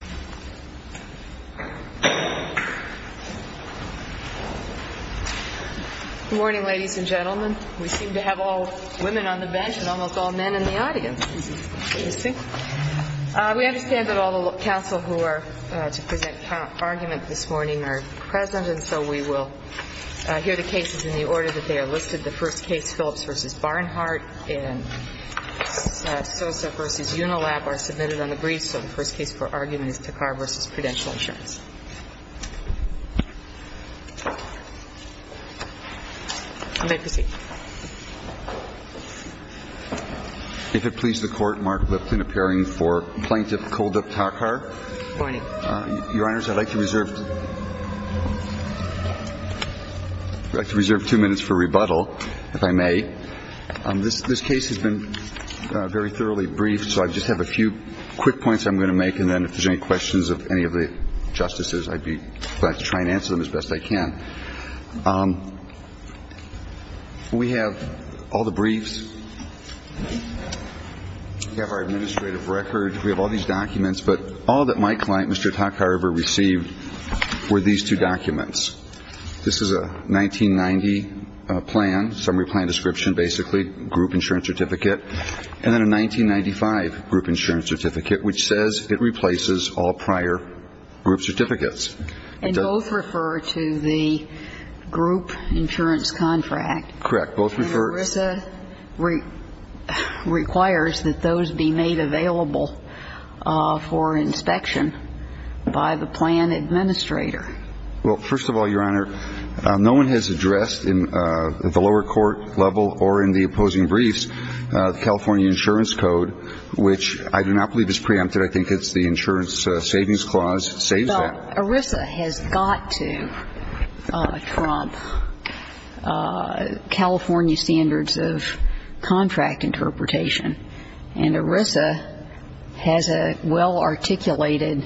Good morning, ladies and gentlemen. We seem to have all women on the bench and almost all men in the audience. We understand that all the counsel who are to present argument this morning are present, and so we will hear the cases in the order that they are listed. The first case, Phillips v. Barnhart and Sosa v. Unilap, are submitted on the briefs, so the first case for argument is Thakhar v. Prudential Insurance. If it please the Court, Mark Lipton, appearing for Plaintiff Koldup Thakhar. Good morning. Your Honors, I'd like to reserve two minutes for rebuttal, if I may. This case has been thoroughly briefed, so I just have a few quick points I'm going to make, and then if there's any questions of any of the Justices, I'd be glad to try and answer them as best I can. We have all the briefs. We have our administrative record. We have all these documents, but all that my client, Mr. Thakhar, ever received were these two documents. This is a 1990 plan, summary plan description, basically, group insurance certificate, and then a 1995 group insurance certificate, which says it replaces all prior group certificates. And both refer to the group insurance contract. Correct. Both refer to And ERISA requires that those be made available for inspection by the plan administrator. Well, first of all, Your Honor, no one has addressed at the lower court level or in the opposing briefs the California insurance code, which I do not believe is preempted. I think it's the insurance savings clause saves that. But ERISA has got to trump California standards of contract interpretation, and ERISA has a well-articulated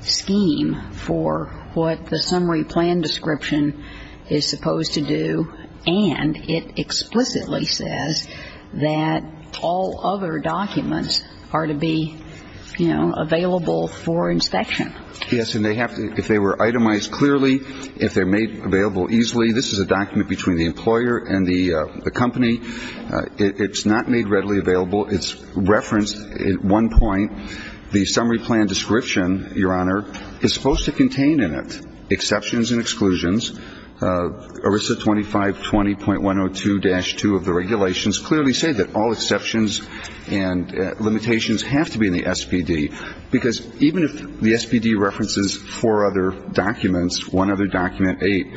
scheme for what the summary plan description is supposed to do, and it explicitly says that all other documents are to be, you know, available for inspection. Yes, and they have to, if they were itemized clearly, if they're made available easily, this is a document between the employer and the company. It's not made readily available. It's referenced at one point. The summary plan description, Your Honor, is supposed to contain in it exceptions and exclusions. ERISA 2520.102-2 of the regulations clearly say that all exceptions and limitations have to be in the SPD, because even if the SPD references four other documents, one other document, eight,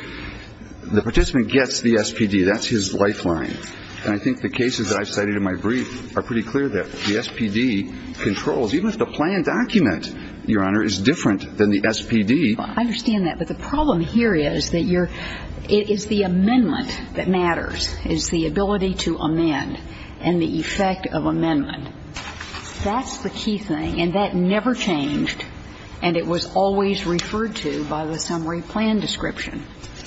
the participant gets the SPD. That's his lifeline. And I think the cases that I cited in my brief are pretty clear that the SPD controls, even if the plan document, Your Honor, is different than the SPD. I understand that, but the problem here is that you're, it is the amendment that matters. It's the ability to amend and the effect of amendment. That's the key thing, and that never changed, and it was always referred to by the summary plan description,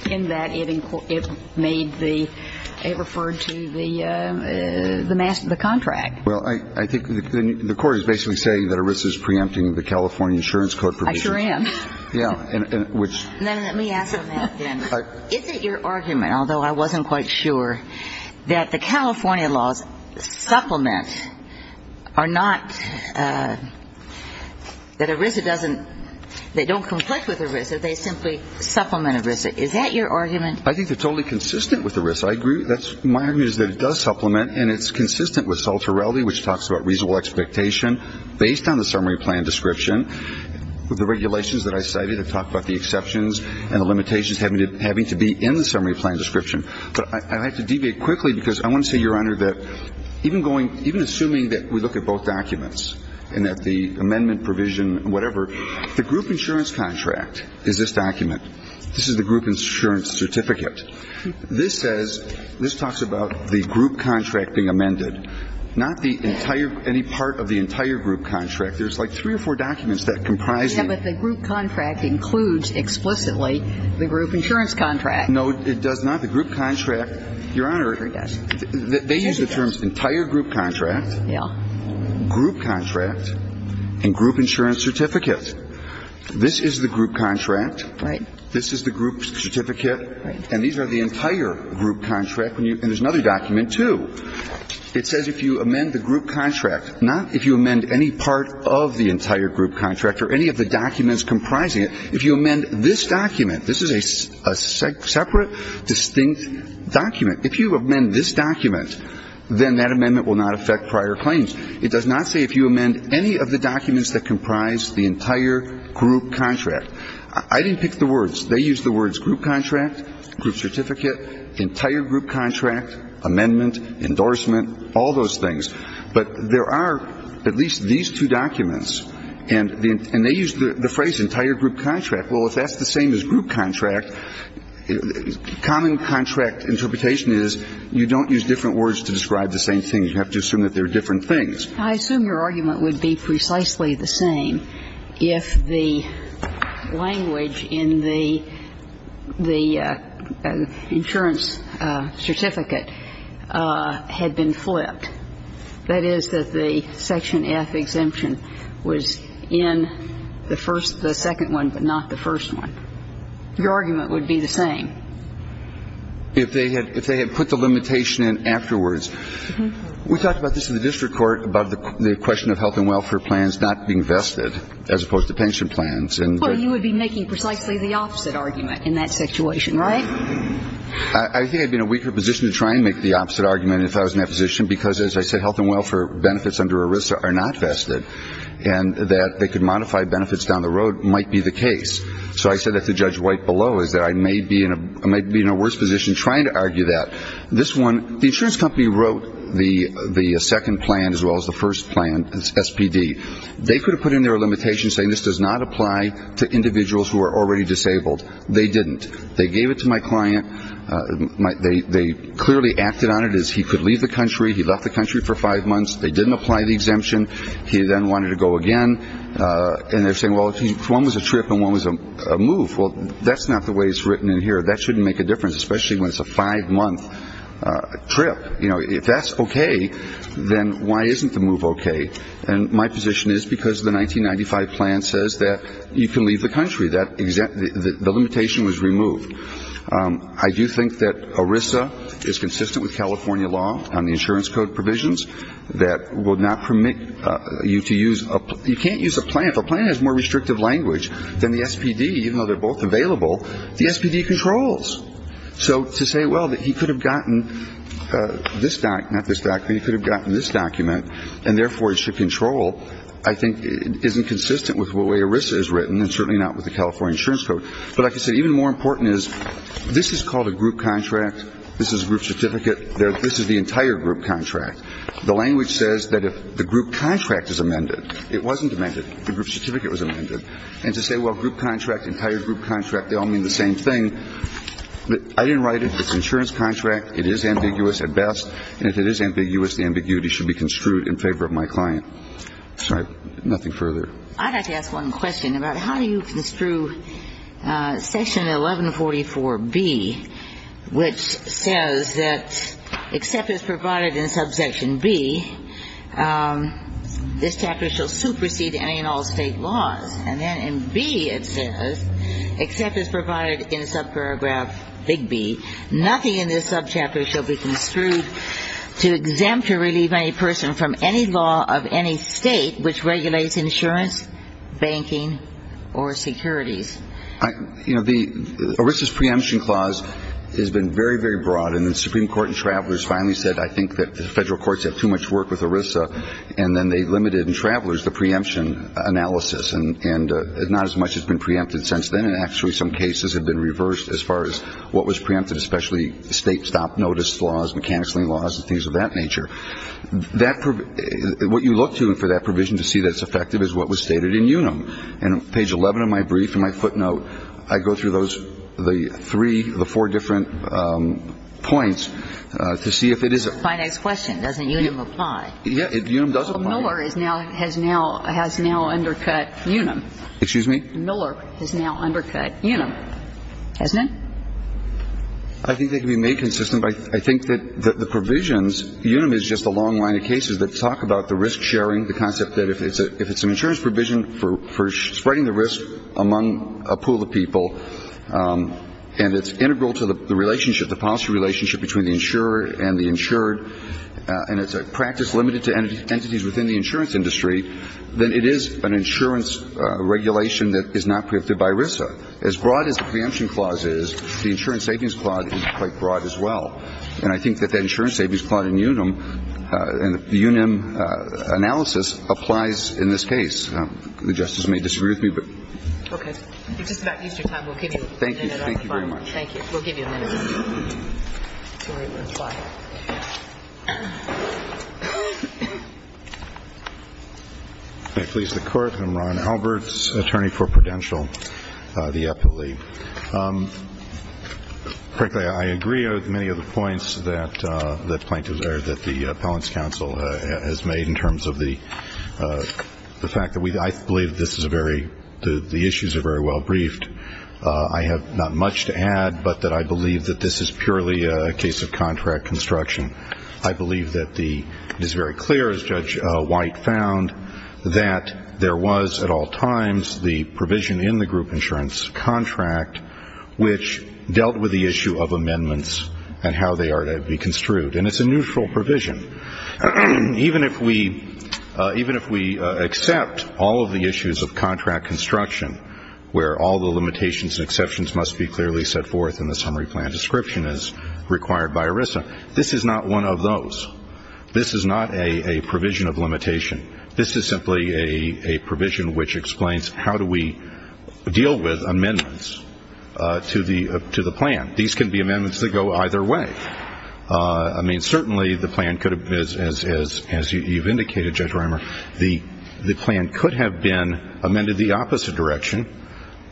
in that it made the, it referred to the, the master, the contract. Well, I think the Court is basically saying that ERISA is preempting the California Insurance Code provisions. I sure am. Yeah, and which. Let me ask on that then. Is it your argument, although I wasn't quite sure, that the California laws supplement are not, that ERISA doesn't, they don't conflict with ERISA. They simply supplement ERISA. Is that your argument? I think they're totally consistent with ERISA. I agree. That's, my argument is that it does supplement, and it's consistent with Sol Torelli, which talks about reasonable expectation based on the summary plan description, with the regulations that I cited that talk about the exceptions and the limitations having to be in the summary plan description. But I have to deviate quickly because I want to say, Your Honor, that even going, even assuming that we look at both documents and at the amendment provision, whatever, the group insurance contract is this document. This is the group insurance certificate. This says, this talks about the group contract being amended, not the entire, any part of the entire group contract. There's like three or four documents that comprise it. Yeah, but the group contract includes explicitly the group insurance contract. No, it does not. The group contract, Your Honor, they use the terms entire group contract, group contract, and group insurance certificate. This is the group contract. Right. This is the group certificate. Right. And these are the entire group contract. And there's another document, too. It says if you amend the group contract, not if you amend any part of the entire group contract or any of the documents comprising it, if you amend this document this is a separate, distinct document. If you amend this document, then that amendment will not affect prior claims. It does not say if you amend any of the documents that comprise the entire group contract. I didn't pick the words. They use the words group contract, group certificate, entire group contract, amendment, endorsement, all those things. But there are at least these two documents. And they use the phrase entire group contract. Well, if that's the same as group contract, common contract interpretation is you don't use different words to describe the same thing. You have to assume that they're different things. I assume your argument would be precisely the same if the language in the insurance certificate had been flipped, that is, that the Section F exemption was in the first the second one but not the first one. Your argument would be the same. If they had put the limitation in afterwards. We talked about this in the district court about the question of health and welfare plans not being vested as opposed to pension plans. Well, you would be making precisely the opposite argument in that situation, right? I think I'd be in a weaker position to try and make the opposite argument if I was in that position because, as I said, health and welfare benefits under ERISA are not what might be the case. So I said that to Judge White below is that I may be in a worse position trying to argue that. This one, the insurance company wrote the second plan as well as the first plan, SPD. They could have put in there a limitation saying this does not apply to individuals who are already disabled. They didn't. They gave it to my client. They clearly acted on it as he could leave the country. He left the country for five months. They didn't apply the exemption. He then wanted to go again. And they're saying, well, one was a trip and one was a move. Well, that's not the way it's written in here. That shouldn't make a difference, especially when it's a five-month trip. You know, if that's okay, then why isn't the move okay? And my position is because the 1995 plan says that you can leave the country. The limitation was removed. I do think that ERISA is consistent with California law on the insurance code that will not permit you to use a plan. You can't use a plan. If a plan has more restrictive language than the SPD, even though they're both available, the SPD controls. So to say, well, that he could have gotten this doc, not this doc, but he could have gotten this document and therefore it should control, I think isn't consistent with the way ERISA is written and certainly not with the California insurance code. But like I said, even more important is this is called a group contract. This is a group certificate. This is the entire group contract. The language says that if the group contract is amended, it wasn't amended. The group certificate was amended. And to say, well, group contract, entire group contract, they all mean the same thing. I didn't write it. It's an insurance contract. It is ambiguous at best. And if it is ambiguous, the ambiguity should be construed in favor of my client. Sorry. Nothing further. I'd like to ask one question about how do you construe section 1144B, which says that except as provided in subsection B, this chapter shall supersede any and all state laws. And then in B it says, except as provided in subparagraph big B, nothing in this subchapter shall be construed to exempt or relieve any person from any law of any state which regulates insurance, banking, or securities. You know, ERISA's preemption clause has been very, very broad. And the Supreme Court in Travelers finally said, I think that the federal courts have too much work with ERISA. And then they limited in Travelers the preemption analysis. And not as much has been preempted since then. And actually some cases have been reversed as far as what was preempted, especially state stop-notice laws, mechanical laws, and things of that nature. What you look to for that provision to see that it's effective is what was stated in UNUM. And on page 11 of my brief, in my footnote, I go through those three, the four different points to see if it is. My next question, doesn't UNUM apply? Yeah, UNUM does apply. Miller has now undercut UNUM. Excuse me? Miller has now undercut UNUM. Hasn't it? I think they can be made consistent. I think that the provisions, UNUM is just a long line of cases that talk about the risk sharing, the concept that if it's an insurance provision for spreading the risk among a pool of people and it's integral to the relationship, the policy relationship between the insurer and the insured, and it's a practice limited to entities within the insurance industry, then it is an insurance regulation that is not preempted by ERISA. But as broad as the preemption clause is, the insurance savings clause is quite broad as well. And I think that that insurance savings clause in UNUM and the UNUM analysis applies in this case. The Justice may disagree with me, but. Okay. It's just about Easter time. We'll give you a minute on the phone. Thank you. Thank you very much. Thank you. We'll give you a minute. Sorry about that. I please the Court. I'm Ron Alberts, attorney for Prudential, the EPILEAG. Frankly, I agree with many of the points that the Appellant's Counsel has made in terms of the fact that we, I believe this is a very, the issues are very well briefed. I have not much to add, but that I believe that this is purely a case of contract construction. I believe that it is very clear, as Judge White found, that there was at all times the provision in the group insurance contract which dealt with the issue of amendments and how they are to be construed. And it's a neutral provision. Even if we accept all of the issues of contract construction, where all the limitations and exceptions must be clearly set forth in the summary plan description as required by ERISA, this is not one of those. This is not a provision of limitation. This is simply a provision which explains how do we deal with amendments to the plan. These can be amendments that go either way. I mean, certainly the plan could have, as you've indicated, Judge Reimer, the plan could have been amended the opposite direction.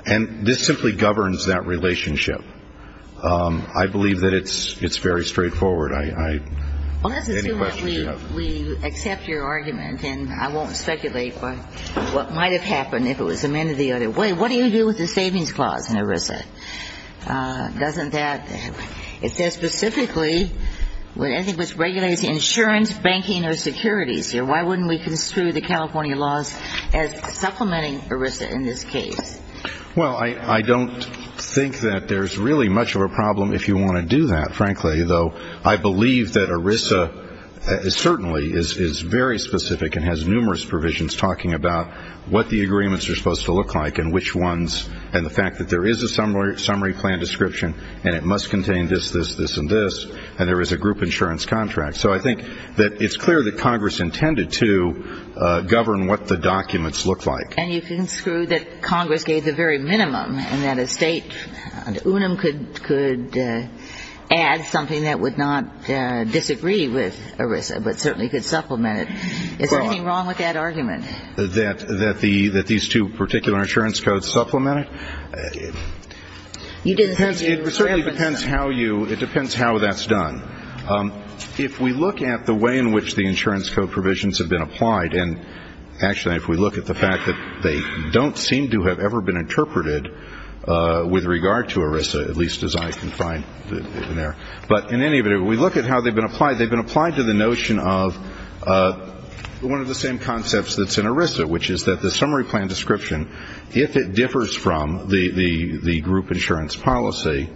And this simply governs that relationship. I believe that it's very straightforward. Any questions you have? Well, let's assume that we accept your argument, and I won't speculate what might have happened if it was amended the other way. What do you do with the savings clause in ERISA? Doesn't that ñ it says specifically, anything which regulates insurance, banking, or securities. Why wouldn't we construe the California laws as supplementing ERISA in this case? Well, I don't think that there's really much of a problem if you want to do that, frankly, though I believe that ERISA certainly is very specific and has numerous provisions talking about what the agreements are supposed to look like and which ones, and the fact that there is a summary plan description, and it must contain this, this, this, and this, and there is a group insurance contract. So I think that it's clear that Congress intended to govern what the documents looked like. And you can construe that Congress gave the very minimum and that a state unum could add something that would not disagree with ERISA, but certainly could supplement it. Is there anything wrong with that argument? That these two particular insurance codes supplement it? It certainly depends how you ñ it depends how that's done. If we look at the way in which the insurance code provisions have been applied, and actually if we look at the fact that they don't seem to have ever been interpreted with regard to ERISA, at least as I can find in there. But in any event, if we look at how they've been applied, they've been applied to the notion of one of the same concepts that's in ERISA, which is that the summary plan description, if it differs from the group insurance policy,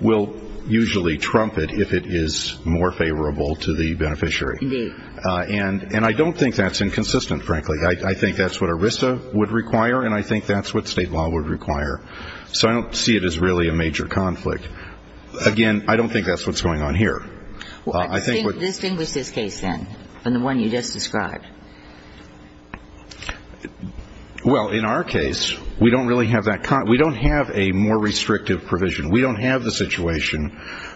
will usually trump it if it is more favorable to the beneficiary. Indeed. And I don't think that's inconsistent, frankly. I think that's what ERISA would require, and I think that's what state law would require. So I don't see it as really a major conflict. Again, I don't think that's what's going on here. Distinguish this case, then, from the one you just described. Well, in our case, we don't really have that ñ we don't have a more restrictive provision. We don't have the situation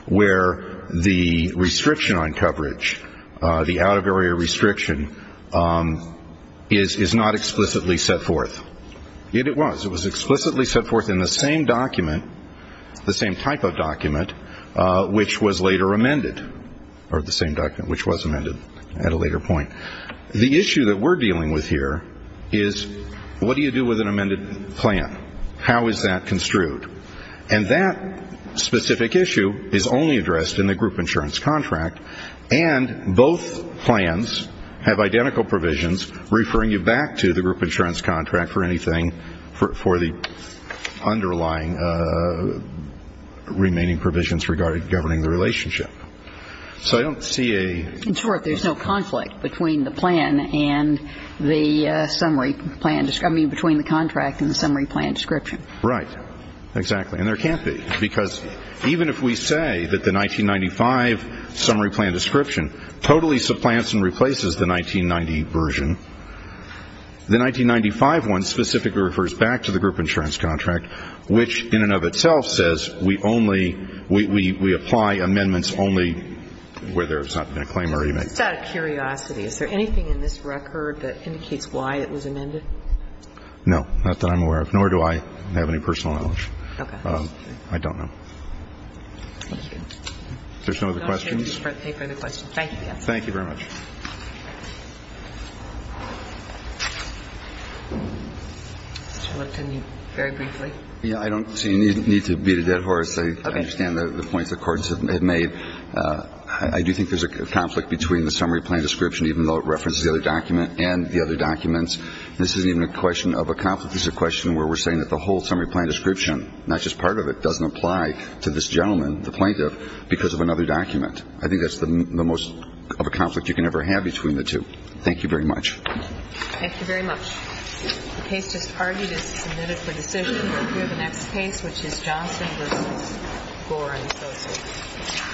where the restriction on coverage, the out-of-area restriction, is not explicitly set forth. Yet it was. It was explicitly set forth in the same document, the same type of document, which was later amended, or the same document which was amended at a later point. The issue that we're dealing with here is, what do you do with an amended plan? How is that construed? And that specific issue is only addressed in the group insurance contract, and both plans have identical provisions referring you back to the group insurance contract for anything, for the underlying remaining provisions regarding governing the relationship. So I don't see a ñ In short, there's no conflict between the plan and the summary plan ñ I mean, between the contract and the summary plan description. Right. Exactly. And there can't be, because even if we say that the 1995 summary plan description totally supplants and replaces the 1990 version, the 1995 one specifically refers back to the group insurance contract, which in and of itself says we only ñ we apply amendments only where there's not been a claim already made. Just out of curiosity, is there anything in this record that indicates why it was amended? No, not that I'm aware of, nor do I have any personal knowledge. Okay. I don't know. Thank you. Is there some other questions? No. Thank you for the question. Thank you. Thank you very much. Mr. Lipton, very briefly. Yeah, I don't see a need to beat a dead horse. I understand the points the courts have made. I do think there's a conflict between the summary plan description, even though it references the other document and the other documents. This isn't even a question of a conflict. This is a question where we're saying that the whole summary plan description, not just part of it, doesn't apply to this gentleman, the plaintiff, because of another document. I think that's the most of a conflict you can ever have between the two. Thank you very much. Thank you very much. The case just argued is submitted for decision. We have the next case, which is Johnson v. Gorin. Thank you.